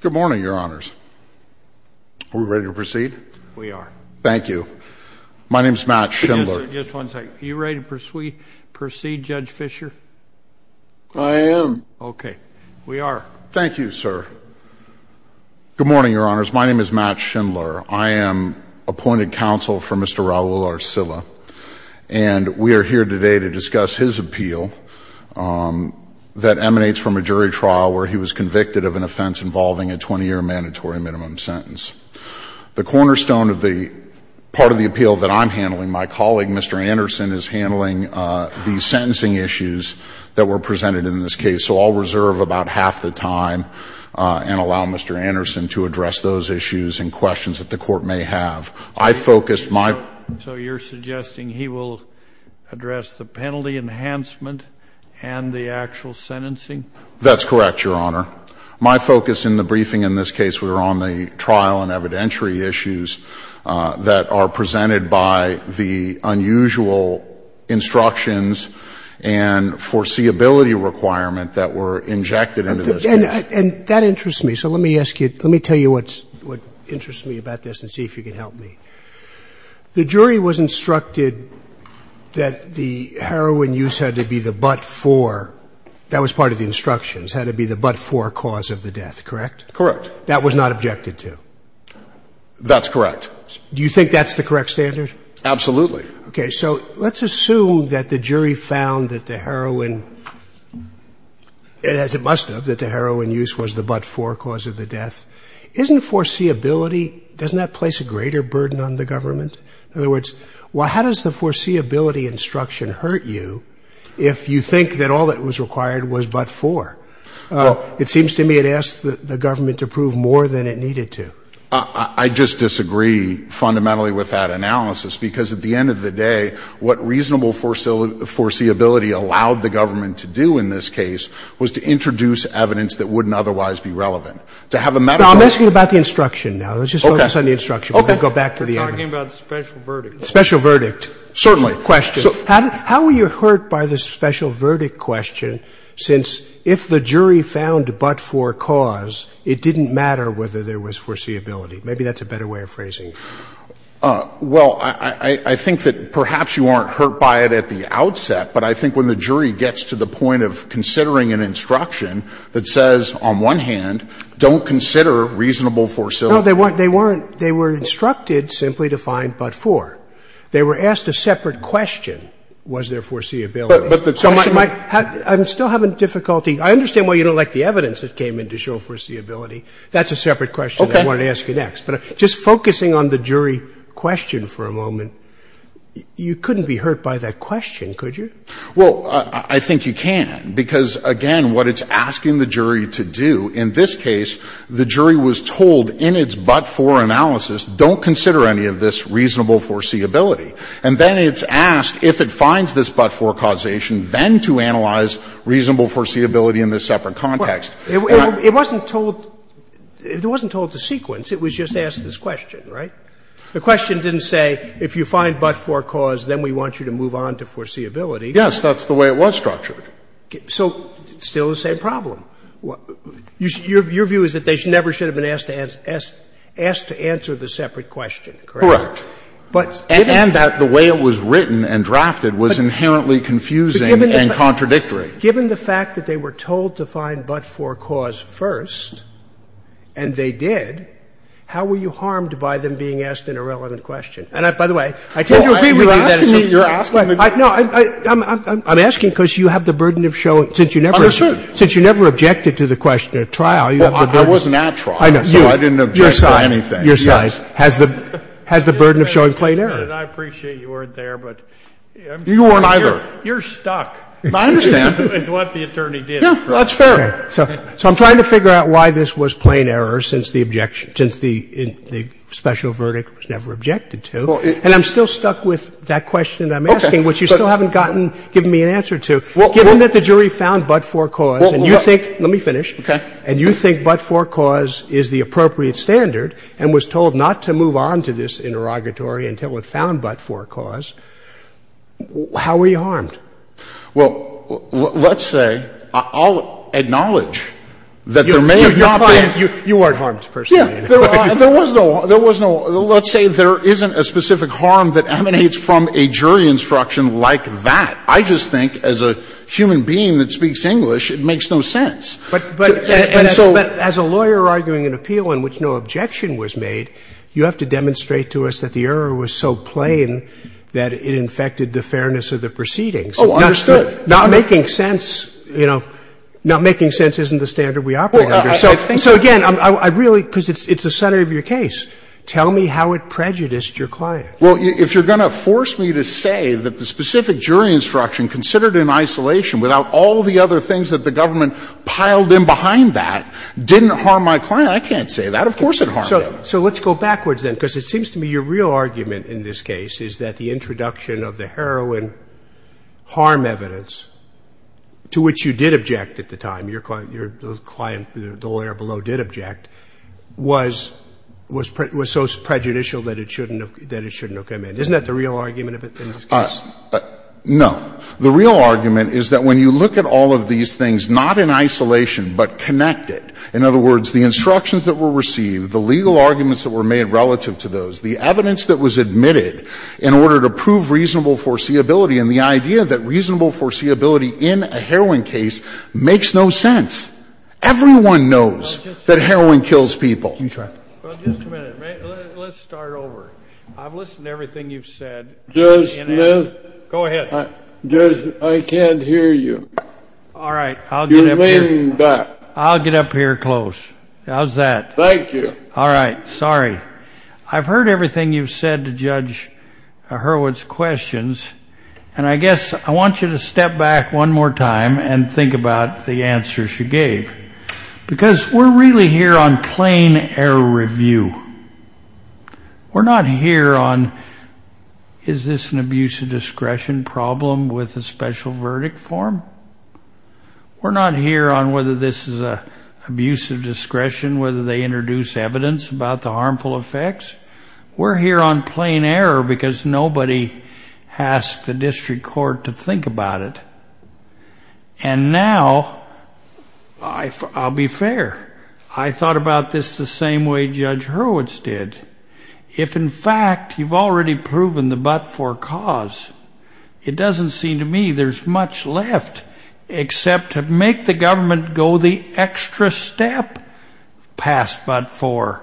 Good morning, your honors. Are we ready to proceed? We are. Thank you. My name is Matt Schindler. Just one second. Are you ready to proceed, Judge Fischer? I am. Okay. We are. Thank you, sir. Good morning, your honors. My name is Matt Schindler. I am appointed counsel for Mr. Raul Arcila. And we are here today to discuss his appeal that emanates from a jury trial where he was convicted of an offense involving a 20-year mandatory minimum sentence. The cornerstone of the part of the appeal that I'm handling, my colleague, Mr. Anderson, is handling the sentencing issues that were presented in this case. So I'll reserve about half the time and allow Mr. Anderson to address those issues and questions that the Court may have. I focused my So you're suggesting he will address the penalty enhancement and the actual sentencing? That's correct, your honor. My focus in the briefing in this case were on the trial and evidentiary issues that are presented by the unusual instructions and foreseeability requirement that were injected into this case. And that interests me. So let me ask you, let me tell you what interests me about this and see if you can help me. The jury was instructed that the heroin use had to be the but-for, that was part of the instructions, had to be the but-for cause of the death, correct? Correct. That was not objected to? That's correct. Do you think that's the correct standard? Absolutely. Okay. So let's assume that the jury found that the heroin, as it must have, that the heroin use was the but-for cause of the death. Isn't foreseeability, doesn't that place a greater burden on the government? In other words, well, how does the foreseeability instruction hurt you if you think that all that was required was but-for? Well, it seems to me it asked the government to prove more than it needed to. I just disagree fundamentally with that analysis because at the end of the day, what reasonable foreseeability allowed the government to do in this case was to introduce evidence that wouldn't otherwise be relevant. To have a metaphor. I'm asking about the instruction now. Okay. Let's just focus on the instruction. Okay. We'll go back to the evidence. We're talking about the special verdict. Special verdict. Certainly. How were you hurt by the special verdict question since if the jury found but-for cause, it didn't matter whether there was foreseeability? Maybe that's a better way of phrasing it. Well, I think that perhaps you aren't hurt by it at the outset, but I think when the jury gets to the point of considering an instruction that says, on one hand, don't consider reasonable foreseeability. No, they weren't. They were instructed simply to find but-for. They were asked a separate question, was there foreseeability. But the question might have to be. I'm still having difficulty. I understand why you don't like the evidence that came in to show foreseeability. That's a separate question I want to ask you next. Okay. But just focusing on the jury question for a moment, you couldn't be hurt by that question, could you? Well, I think you can. Because, again, what it's asking the jury to do, in this case, the jury was told in its but-for analysis, don't consider any of this reasonable foreseeability. And then it's asked if it finds this but-for causation, then to analyze reasonable foreseeability in this separate context. It wasn't told to sequence. It was just asked this question, right? The question didn't say if you find but-for cause, then we want you to move on to foreseeability. Yes, that's the way it was structured. So still the same problem. Your view is that they never should have been asked to answer the separate question, correct? Correct. And that the way it was written and drafted was inherently confusing and contradictory. Given the fact that they were told to find but-for cause first, and they did, how were you harmed by them being asked an irrelevant question? I'm asking because you have the burden of showing, since you never objected to the question at trial, you have the burden. I wasn't at trial, so I didn't object to anything. Your side has the burden of showing plain error. And I appreciate you weren't there, but you're stuck is what the attorney did. That's fair. So I'm trying to figure out why this was plain error since the objection, since the special verdict was never objected to. And I'm still stuck with that question that I'm asking, which you still haven't gotten, given me an answer to. Given that the jury found but-for cause, and you think, let me finish, and you think but-for cause is the appropriate standard and was told not to move on to this interrogatory until it found but-for cause, how were you harmed? Well, let's say, I'll acknowledge that there may have not been. You weren't harmed, personally. There was no, let's say there isn't a specific harm that emanates from a jury instruction like that. I just think, as a human being that speaks English, it makes no sense. But as a lawyer arguing an appeal in which no objection was made, you have to demonstrate to us that the error was so plain that it infected the fairness of the proceedings. Oh, understood. Not making sense, you know, not making sense isn't the standard we operate under. So again, I really, because it's the center of your case, tell me how it prejudiced your client. Well, if you're going to force me to say that the specific jury instruction considered in isolation without all the other things that the government piled in behind that didn't harm my client, I can't say that. Of course it harmed him. So let's go backwards then, because it seems to me your real argument in this case is that the introduction of the heroin harm evidence, to which you did object at the time, your client, the lawyer below did object, was so prejudicial that it shouldn't have come in. Isn't that the real argument in this case? No. The real argument is that when you look at all of these things, not in isolation but connected, in other words, the instructions that were received, the legal arguments that were made relative to those, the evidence that was admitted in order to prove reasonable foreseeability and the idea that reasonable foreseeability in a heroin case makes no sense. Everyone knows that heroin kills people. Well, just a minute, let's start over. I've listened to everything you've said. Judge Smith. Go ahead. Judge, I can't hear you. All right, I'll get up here. You're leaning back. I'll get up here close. How's that? Thank you. All right, sorry. I've heard everything you've said to Judge Hurwitz's questions. And I guess I want you to step back one more time and think about the answer she gave. Because we're really here on plain error review. We're not here on, is this an abuse of discretion problem with a special verdict form? We're not here on whether this is an abuse of discretion, whether they introduce evidence about the harmful effects. We're here on plain error because nobody asked the district court to think about it. And now, I'll be fair, I thought about this the same way Judge Hurwitz did. If, in fact, you've already proven the but-for cause, it doesn't seem to me there's much left except to make the government go the extra step past but-for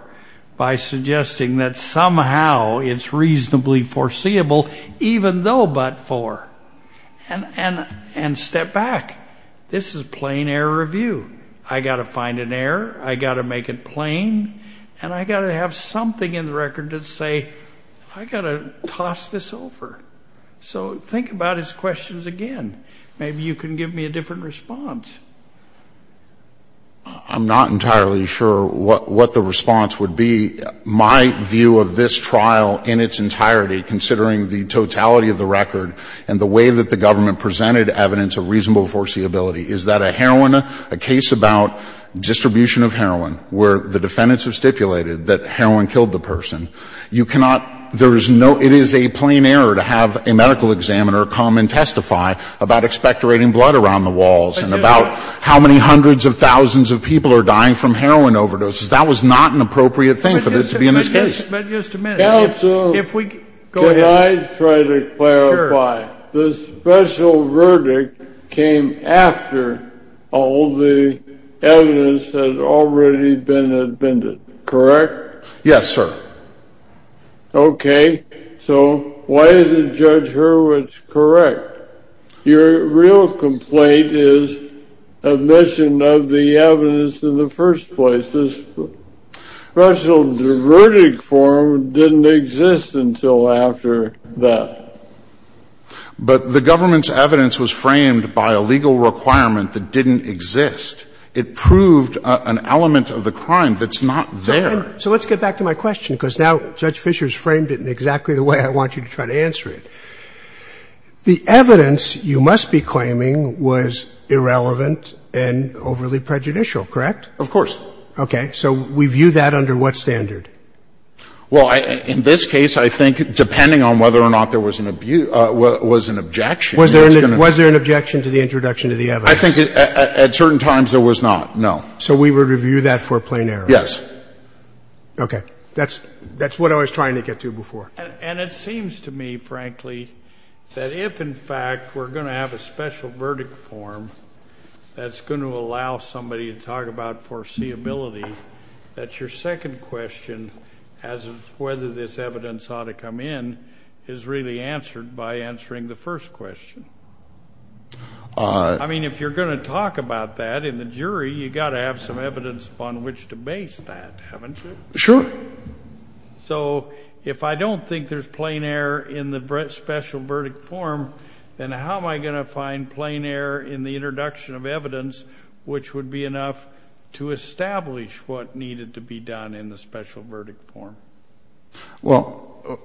by suggesting that somehow it's reasonably foreseeable, even though but-for, and step back. This is plain error review. I've got to find an error. I've got to make it plain. And I've got to have something in the record to say, I've got to toss this over. So think about his questions again. Maybe you can give me a different response. I'm not entirely sure what the response would be. My view of this trial in its entirety, considering the totality of the record and the way that the government presented evidence of reasonable foreseeability, is that a heroin, a case about distribution of heroin where the defendants have stipulated that heroin killed the person. You cannot, there is no, it is a plain error to have a medical examiner come and testify about expectorating blood around the walls and about how many hundreds of thousands of people are dying from heroin overdoses. That was not an appropriate thing for this to be in this case. But just a minute. If we, go ahead. Can I try to clarify? Sure. The special verdict came after all the evidence had already been admitted, correct? Yes, sir. Okay. So why is it Judge Hurwitz correct? Your real complaint is admission of the evidence in the first place. This special verdict form didn't exist until after that. But the government's evidence was framed by a legal requirement that didn't exist. It proved an element of the crime that's not there. So let's get back to my question, because now Judge Fischer has framed it in exactly the way I want you to try to answer it. The evidence you must be claiming was irrelevant and overly prejudicial, correct? Of course. Okay. So we view that under what standard? Well, in this case, I think, depending on whether or not there was an abuse, was an objection. Was there an objection to the introduction of the evidence? I think at certain times there was not, no. So we would review that for a plain error? Yes. Okay. That's what I was trying to get to before. And it seems to me, frankly, that if, in fact, we're going to have a special verdict form that's going to allow somebody to talk about foreseeability, that your second question, as of whether this evidence ought to come in, is really answered by answering the first question. I mean, if you're going to talk about that in the jury, you've got to have some basis to base that, haven't you? Sure. So if I don't think there's plain error in the special verdict form, then how am I going to find plain error in the introduction of evidence which would be enough to establish what needed to be done in the special verdict form? Well,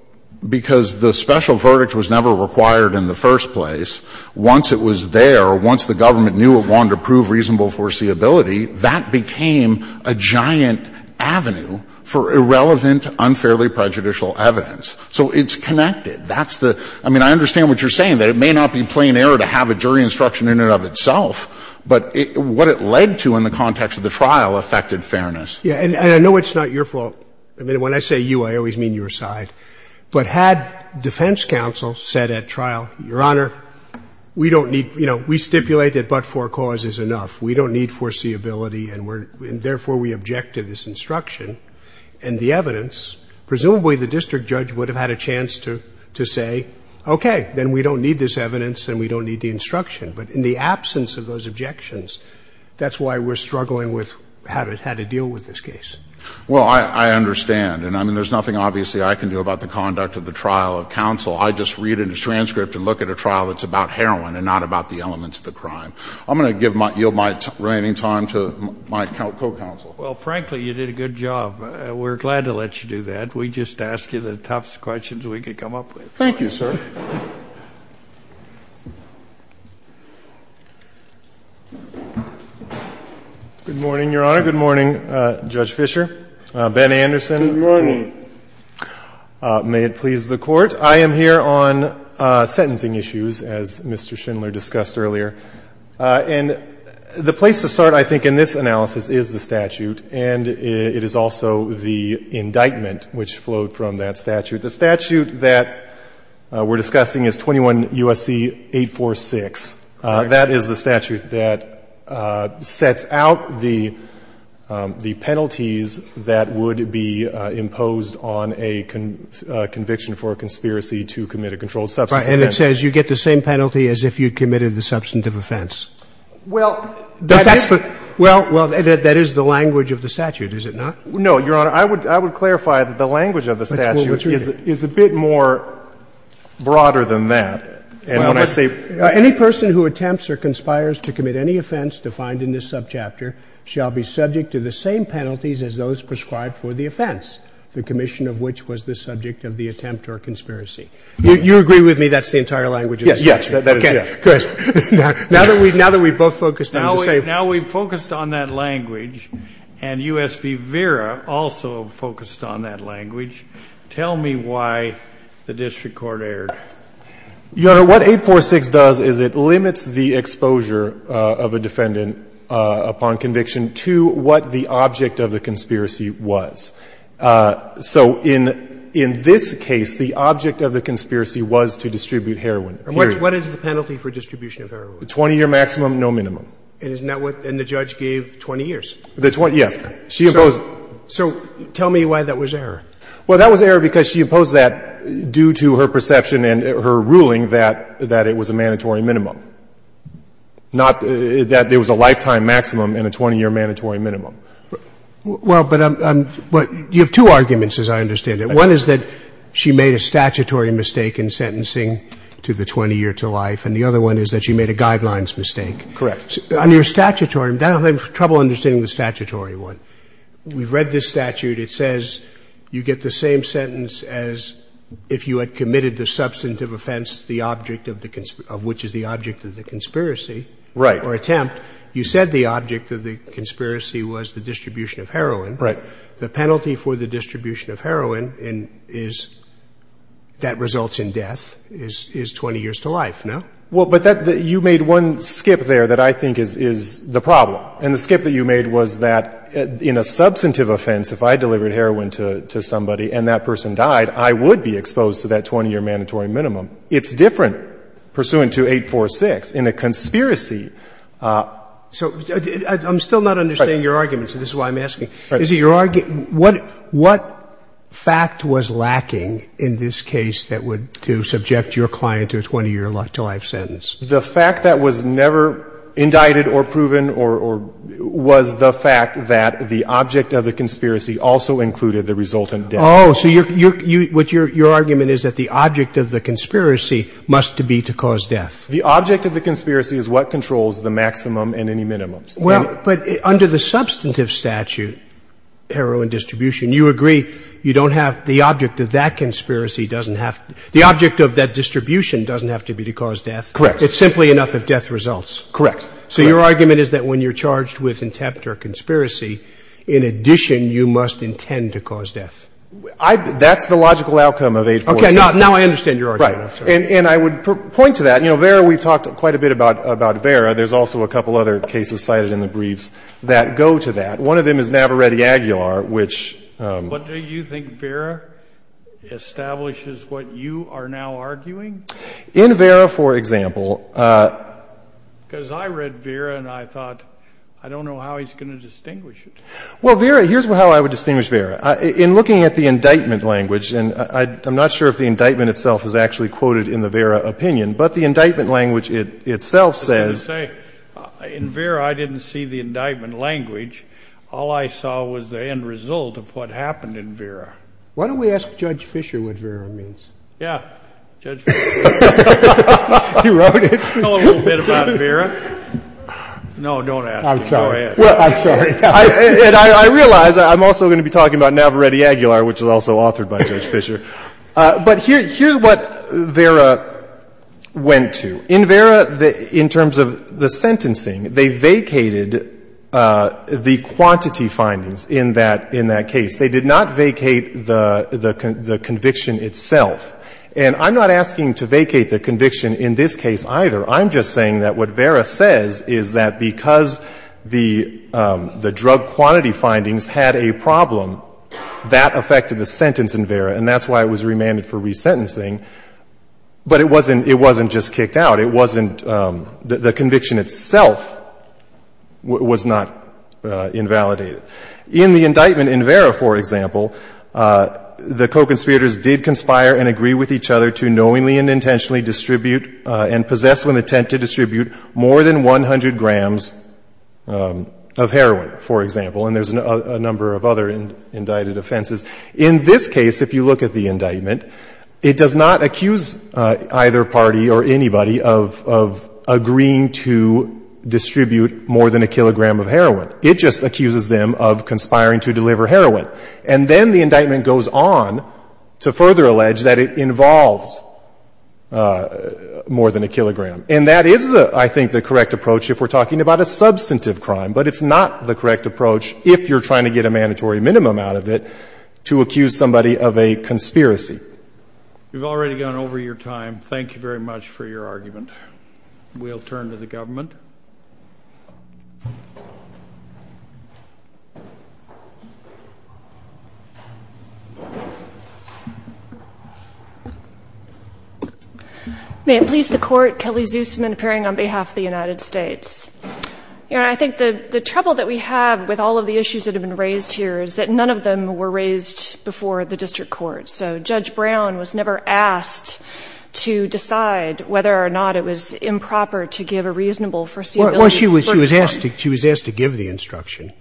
because the special verdict was never required in the first place. Once it was there, once the government knew it wanted to prove reasonable foreseeability, that became a giant avenue for irrelevant, unfairly prejudicial evidence. So it's connected. That's the — I mean, I understand what you're saying, that it may not be plain error to have a jury instruction in and of itself, but it — what it led to in the context of the trial affected fairness. Yeah. And I know it's not your fault. I mean, when I say you, I always mean your side. But had defense counsel said at trial, Your Honor, we don't need — you know, we stipulate that but-for cause is enough. We don't need foreseeability and we're — and therefore we object to this instruction and the evidence, presumably the district judge would have had a chance to — to say, okay, then we don't need this evidence and we don't need the instruction. But in the absence of those objections, that's why we're struggling with how to — how to deal with this case. Well, I understand. And I mean, there's nothing obviously I can do about the conduct of the trial of counsel. I just read a transcript and look at a trial that's about heroin and not about the elements of the crime. I'm going to give my — yield my remaining time to my co-counsel. Well, frankly, you did a good job. We're glad to let you do that. We just asked you the toughest questions we could come up with. Thank you, sir. Good morning, Your Honor. Good morning, Judge Fischer. Ben Anderson. Good morning. May it please the Court. I am here on sentencing issues, as Mr. Schindler discussed earlier. And the place to start, I think, in this analysis is the statute, and it is also the indictment which flowed from that statute. The statute that we're discussing is 21 U.S.C. 846. That is the statute that sets out the penalties that would be imposed on a conviction for a conspiracy to commit a controlled substance offense. Right. And it says you get the same penalty as if you committed the substantive offense. Well, that is the — Well, that is the language of the statute, is it not? No, Your Honor. I would clarify that the language of the statute is a bit more broader than that. And when I say — Any person who attempts or conspires to commit any offense defined in this subchapter shall be subject to the same penalties as those prescribed for the offense, the commission of which was the subject of the attempt or conspiracy. You agree with me that's the entire language of the statute? Yes. That is correct. Now that we've — now that we've both focused on the same — Now we've focused on that language, and U.S. v. Vera also focused on that language. Tell me why the district court erred. Your Honor, what 846 does is it limits the exposure of a defendant upon conviction to what the object of the conspiracy was. So in this case, the object of the conspiracy was to distribute heroin, period. And what is the penalty for distribution of heroin? Twenty-year maximum, no minimum. And isn't that what — and the judge gave 20 years? The 20 — yes. She imposed — So tell me why that was error. Well, that was error because she imposed that due to her perception and her ruling that it was a mandatory minimum, not that it was a lifetime maximum and a 20-year mandatory minimum. Well, but I'm — you have two arguments, as I understand it. One is that she made a statutory mistake in sentencing to the 20-year to life, and the other one is that she made a guidelines mistake. Correct. On your statutory — I'm having trouble understanding the statutory one. We've read this statute. It says you get the same sentence as if you had committed the substantive offense, the object of the — of which is the object of the conspiracy. Right. Or attempt. You said the object of the conspiracy was the distribution of heroin. Right. The penalty for the distribution of heroin is — that results in death is 20 years to life, no? Well, but that — you made one skip there that I think is the problem. And the skip that you made was that in a substantive offense, if I delivered heroin to somebody and that person died, I would be exposed to that 20-year mandatory minimum. It's different pursuant to 846. In a conspiracy — So I'm still not understanding your argument, so this is why I'm asking. Is it your — what fact was lacking in this case that would — to subject your client to a 20-year to life sentence? The fact that was never indicted or proven or — was the fact that the object of the conspiracy also included the resultant death. Oh. So your — what your argument is that the object of the conspiracy must be to cause death. The object of the conspiracy is what controls the maximum and any minimums. Well, but under the substantive statute, heroin distribution, you agree you don't have — the object of that conspiracy doesn't have — the object of that distribution doesn't have to be to cause death. Correct. It's simply enough if death results. Correct. So your argument is that when you're charged with contempt or conspiracy, in addition, you must intend to cause death. Okay, now I understand your argument. Right. And I would point to that. You know, Vera, we've talked quite a bit about Vera. There's also a couple other cases cited in the briefs that go to that. One of them is Navaretti-Aguilar, which — But do you think Vera establishes what you are now arguing? In Vera, for example — Because I read Vera and I thought, I don't know how he's going to distinguish it. Well, Vera — here's how I would distinguish Vera. In looking at the indictment language — and I'm not sure if the indictment itself is actually quoted in the Vera opinion, but the indictment language itself says — I was going to say, in Vera, I didn't see the indictment language. All I saw was the end result of what happened in Vera. Why don't we ask Judge Fischer what Vera means? Yeah, Judge Fischer. You wrote it? I know a little bit about Vera. No, don't ask him. Go ahead. I'm sorry. I realize I'm also going to be talking about Navaretti-Aguilar, which is also authored by Judge Fischer. But here's what Vera went to. In Vera, in terms of the sentencing, they vacated the quantity findings in that case. They did not vacate the conviction itself. And I'm not asking to vacate the conviction in this case either. I'm just saying that what Vera says is that because the drug quantity findings had a problem, that affected the sentence in Vera. And that's why it was remanded for resentencing. But it wasn't just kicked out. It wasn't — the conviction itself was not invalidated. In the indictment in Vera, for example, the co-conspirators did conspire and agree with each other to knowingly and intentionally distribute and possess with intent to distribute more than 100 grams of heroin, for example. And there's a number of other indicted offenses. In this case, if you look at the indictment, it does not accuse either party or anybody of agreeing to distribute more than a kilogram of heroin. It just accuses them of conspiring to deliver heroin. And then the indictment goes on to further allege that it involves more than a kilogram. And that is, I think, the correct approach if we're talking about a substantive crime. But it's not the correct approach if you're trying to get a mandatory minimum out of it. To accuse somebody of a conspiracy. We've already gone over your time. Thank you very much for your argument. We'll turn to the government. May it please the Court. Kelly Zoosman, appearing on behalf of the United States. You know, I think the trouble that we have with all of the issues that have been raised here is that none of them were raised before the district court. So Judge Brown was never asked to decide whether or not it was improper to give a reasonable foreseeable time. Well, she was asked to give the instruction.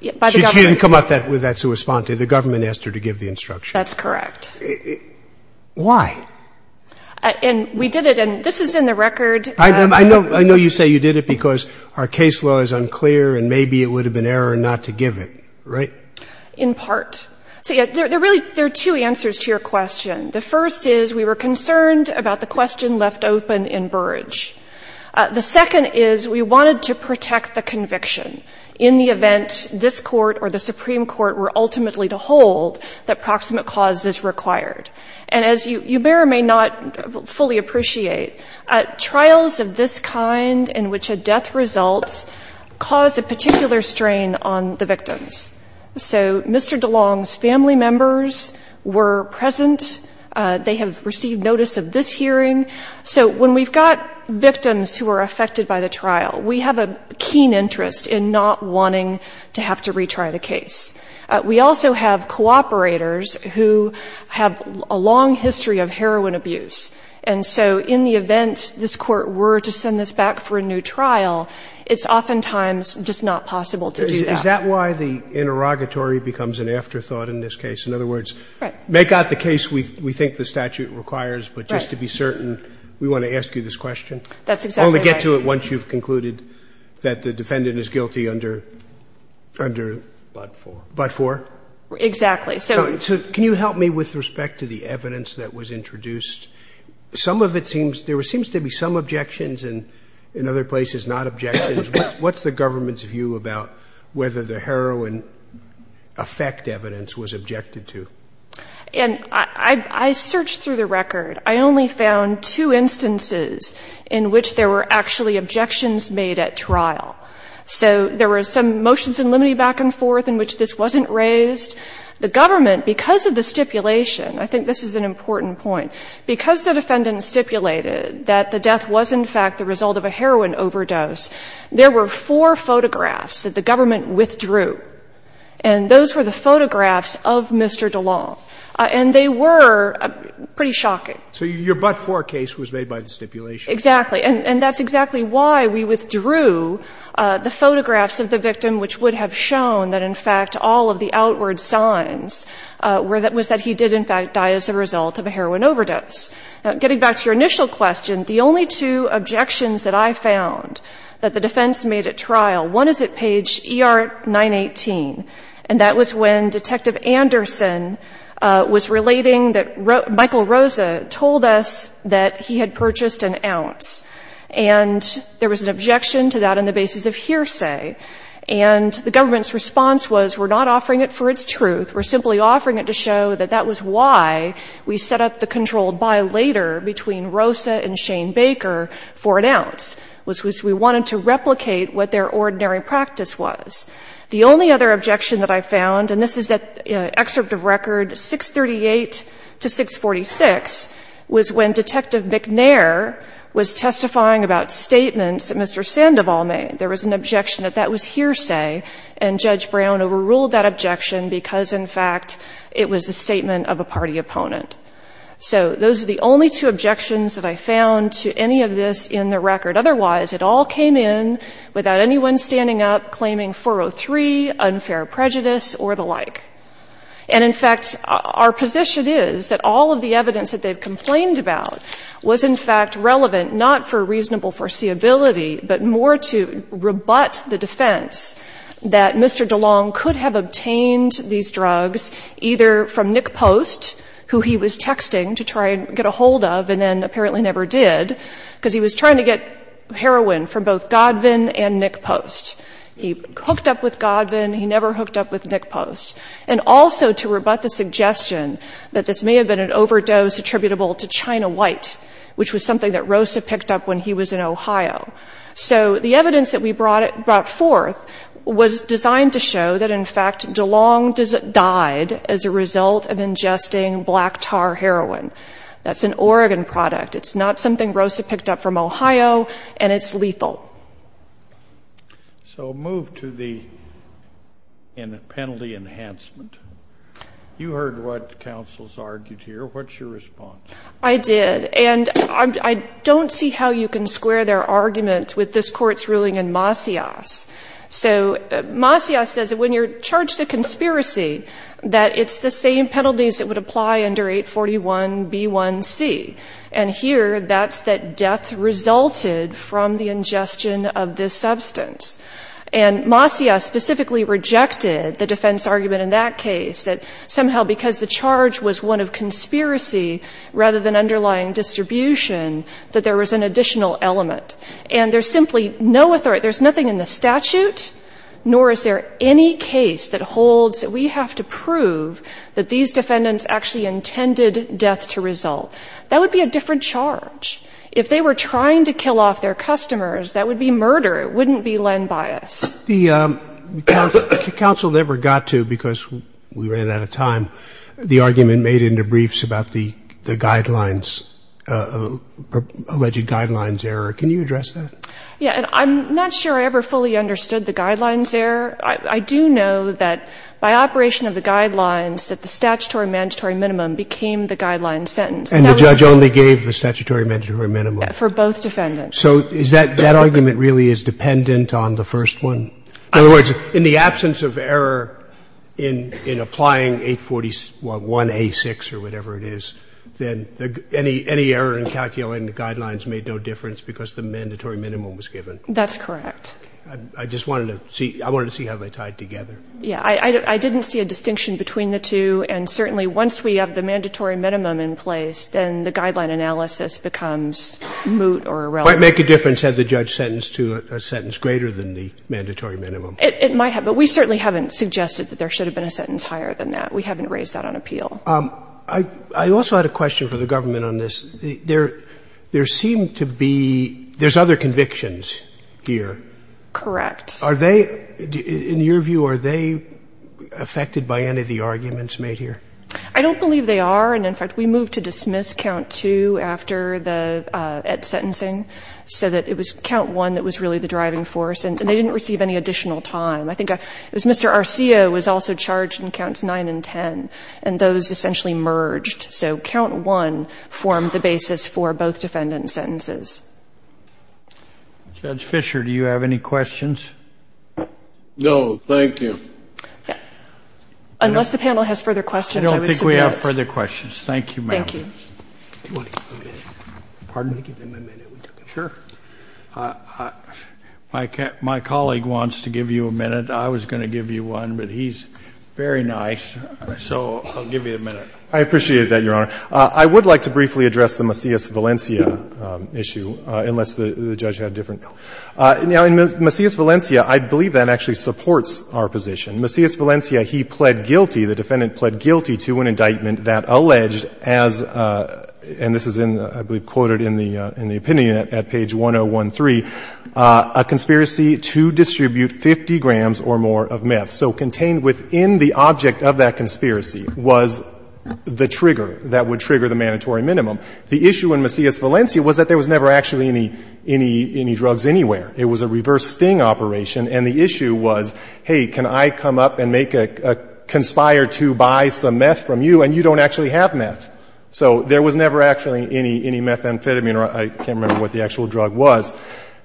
She didn't come up with that to respond to. The government asked her to give the instruction. That's correct. Why? And we did it. And this is in the record. I know you say you did it because our case law is unclear. And maybe it would have been error not to give it, right? In part. So, yeah, there are two answers to your question. The first is we were concerned about the question left open in Burrage. The second is we wanted to protect the conviction in the event this Court or the Supreme Court were ultimately to hold that proximate cause is required. And as you may or may not fully appreciate, trials of this kind in which a death results cause a particular strain on the victims. So Mr. DeLong's family members were present. They have received notice of this hearing. So when we've got victims who are affected by the trial, we have a keen interest in not wanting to have to retry the case. We also have cooperators who have a long history of heroin abuse. And so in the event this Court were to send this back for a new trial, it's oftentimes just not possible to do that. Is that why the interrogatory becomes an afterthought in this case? In other words, make out the case we think the statute requires. But just to be certain, we want to ask you this question. That's exactly right. We'll only get to it once you've concluded that the defendant is guilty under. Under. But for. But for. Exactly. So can you help me with respect to the evidence that was introduced? Some of it seems, there seems to be some objections and in other places not objections. What's the government's view about whether the heroin effect evidence was objected to? And I, I, I searched through the record. I only found two instances in which there were actually objections made at trial. So there were some motions in limine back and forth in which this wasn't raised. The government, because of the stipulation, I think this is an important point. Because the defendant stipulated that the death was in fact the result of a heroin overdose, there were four photographs that the government withdrew. And those were the photographs of Mr. DeLong. And they were pretty shocking. So your but-for case was made by the stipulation. Exactly. And, and that's exactly why we withdrew the photographs of the victim, which would have shown that in fact all of the outward signs were that, was that he did in fact die as a result of a heroin overdose. Now getting back to your initial question, the only two objections that I found that the defense made at trial, one is at page ER 918. And that was when Detective Anderson was relating that Michael Rosa told us that he had purchased an ounce. And there was an objection to that on the basis of hearsay. And the government's response was, we're not offering it for its truth. We're simply offering it to show that that was why we set up the controlled buy later between Rosa and Shane Baker for an ounce, which was we wanted to replicate what their ordinary practice was. The only other objection that I found, and this is that excerpt of record 638 to 646, was when Detective McNair was testifying about statements that Mr. Sandoval made. There was an objection that that was hearsay, and Judge Brown overruled that objection because in fact it was a statement of a party opponent. So those are the only two objections that I found to any of this in the record. Otherwise, it all came in without anyone standing up claiming 403, unfair prejudice, or the like. And in fact, our position is that all of the evidence that they've complained about was in fact relevant not for reasonable foreseeability, but more to rebut the defense that Mr. DeLong could have obtained these drugs either from Nick Post, who he was texting to try and get a hold of and then apparently never did, because he was trying to get heroin from both Godvin and Nick Post. He hooked up with Godvin. He never hooked up with Nick Post. And also to rebut the suggestion that this may have been an overdose attributable to China White, which was something that Rosa picked up when he was in Ohio. So the evidence that we brought forth was designed to show that in fact DeLong died as a result of ingesting black tar heroin. That's an Oregon product. It's not something Rosa picked up from Ohio, and it's lethal. So move to the penalty enhancement. You heard what counsels argued here. What's your response? I did. And I don't see how you can square their argument with this Court's ruling in Masias. So Masias says that when you're charged a conspiracy, that it's the same penalties that would apply under 841B1C. And here, that's that death resulted from the ingestion of this substance. And Masias specifically rejected the defense argument in that case, that somehow because the charge was one of conspiracy rather than underlying distribution, that there was an additional element. And there's simply no authority. There's nothing in the statute, nor is there any case that holds that we have to prove that these defendants actually intended death to result. That would be a different charge. If they were trying to kill off their customers, that would be murder. It wouldn't be land bias. The counsel never got to, because we ran out of time, the argument made in the briefs about the guidelines, alleged guidelines error. Can you address that? Yeah. And I'm not sure I ever fully understood the guidelines error. I do know that by operation of the guidelines, that the statutory mandatory minimum became the guideline sentence. And the judge only gave the statutory mandatory minimum? For both defendants. So is that argument really is dependent on the first one? In other words, in the absence of error in applying 841A6 or whatever it is, then any error in calculating the guidelines made no difference because the mandatory minimum was given. That's correct. I just wanted to see how they tied together. Yeah. I didn't see a distinction between the two. And certainly once we have the mandatory minimum in place, then the guideline analysis becomes moot or irrelevant. It might make a difference had the judge sentenced to a sentence greater than the mandatory minimum. It might have. But we certainly haven't suggested that there should have been a sentence higher than that. We haven't raised that on appeal. I also had a question for the government on this. There seem to be other convictions here. Correct. Are they, in your view, are they affected by any of the arguments made here? I don't believe they are. And, in fact, we moved to dismiss count two after the Ed's sentencing so that it was count one that was really the driving force. And they didn't receive any additional time. I think it was Mr. Arcio was also charged in counts nine and ten. And those essentially merged. So count one formed the basis for both defendant sentences. Judge Fischer, do you have any questions? No. Thank you. Yeah. Unless the panel has further questions, I would submit. If we have further questions. Thank you, ma'am. Thank you. Do you want to give him a minute? Pardon? Give him a minute. Sure. My colleague wants to give you a minute. I was going to give you one, but he's very nice. So I'll give you a minute. I appreciate that, Your Honor. I would like to briefly address the Macias-Valencia issue, unless the judge had a different Now, in Macias-Valencia, I believe that actually supports our position. Macias-Valencia, he pled guilty. The defendant pled guilty to an indictment that alleged as, and this is in, I believe, quoted in the opinion at page 1013, a conspiracy to distribute 50 grams or more of meth. So contained within the object of that conspiracy was the trigger that would trigger the mandatory minimum. The issue in Macias-Valencia was that there was never actually any drugs anywhere. It was a reverse sting operation. And the issue was, hey, can I come up and make a conspire to buy some meth from you, and you don't actually have meth. So there was never actually any methamphetamine, or I can't remember what the actual drug was.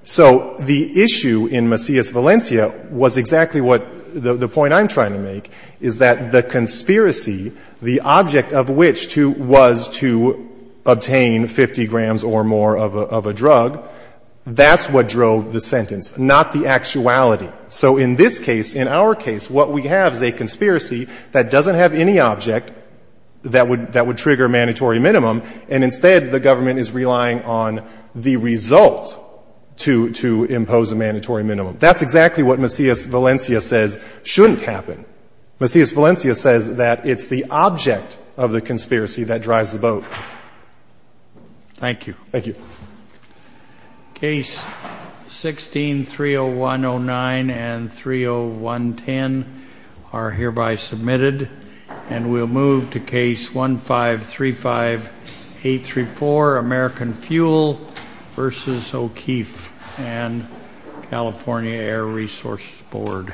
So the issue in Macias-Valencia was exactly what the point I'm trying to make, is that the conspiracy, the object of which was to obtain 50 grams or more of a drug, that's not the actuality. So in this case, in our case, what we have is a conspiracy that doesn't have any object that would trigger a mandatory minimum, and instead the government is relying on the result to impose a mandatory minimum. That's exactly what Macias-Valencia says shouldn't happen. Macias-Valencia says that it's the object of the conspiracy that drives the boat. Thank you. Thank you. Case 16-30109 and 30110 are hereby submitted, and we'll move to case 1535834, American Fuel versus O'Keeffe and California Air Resources Board.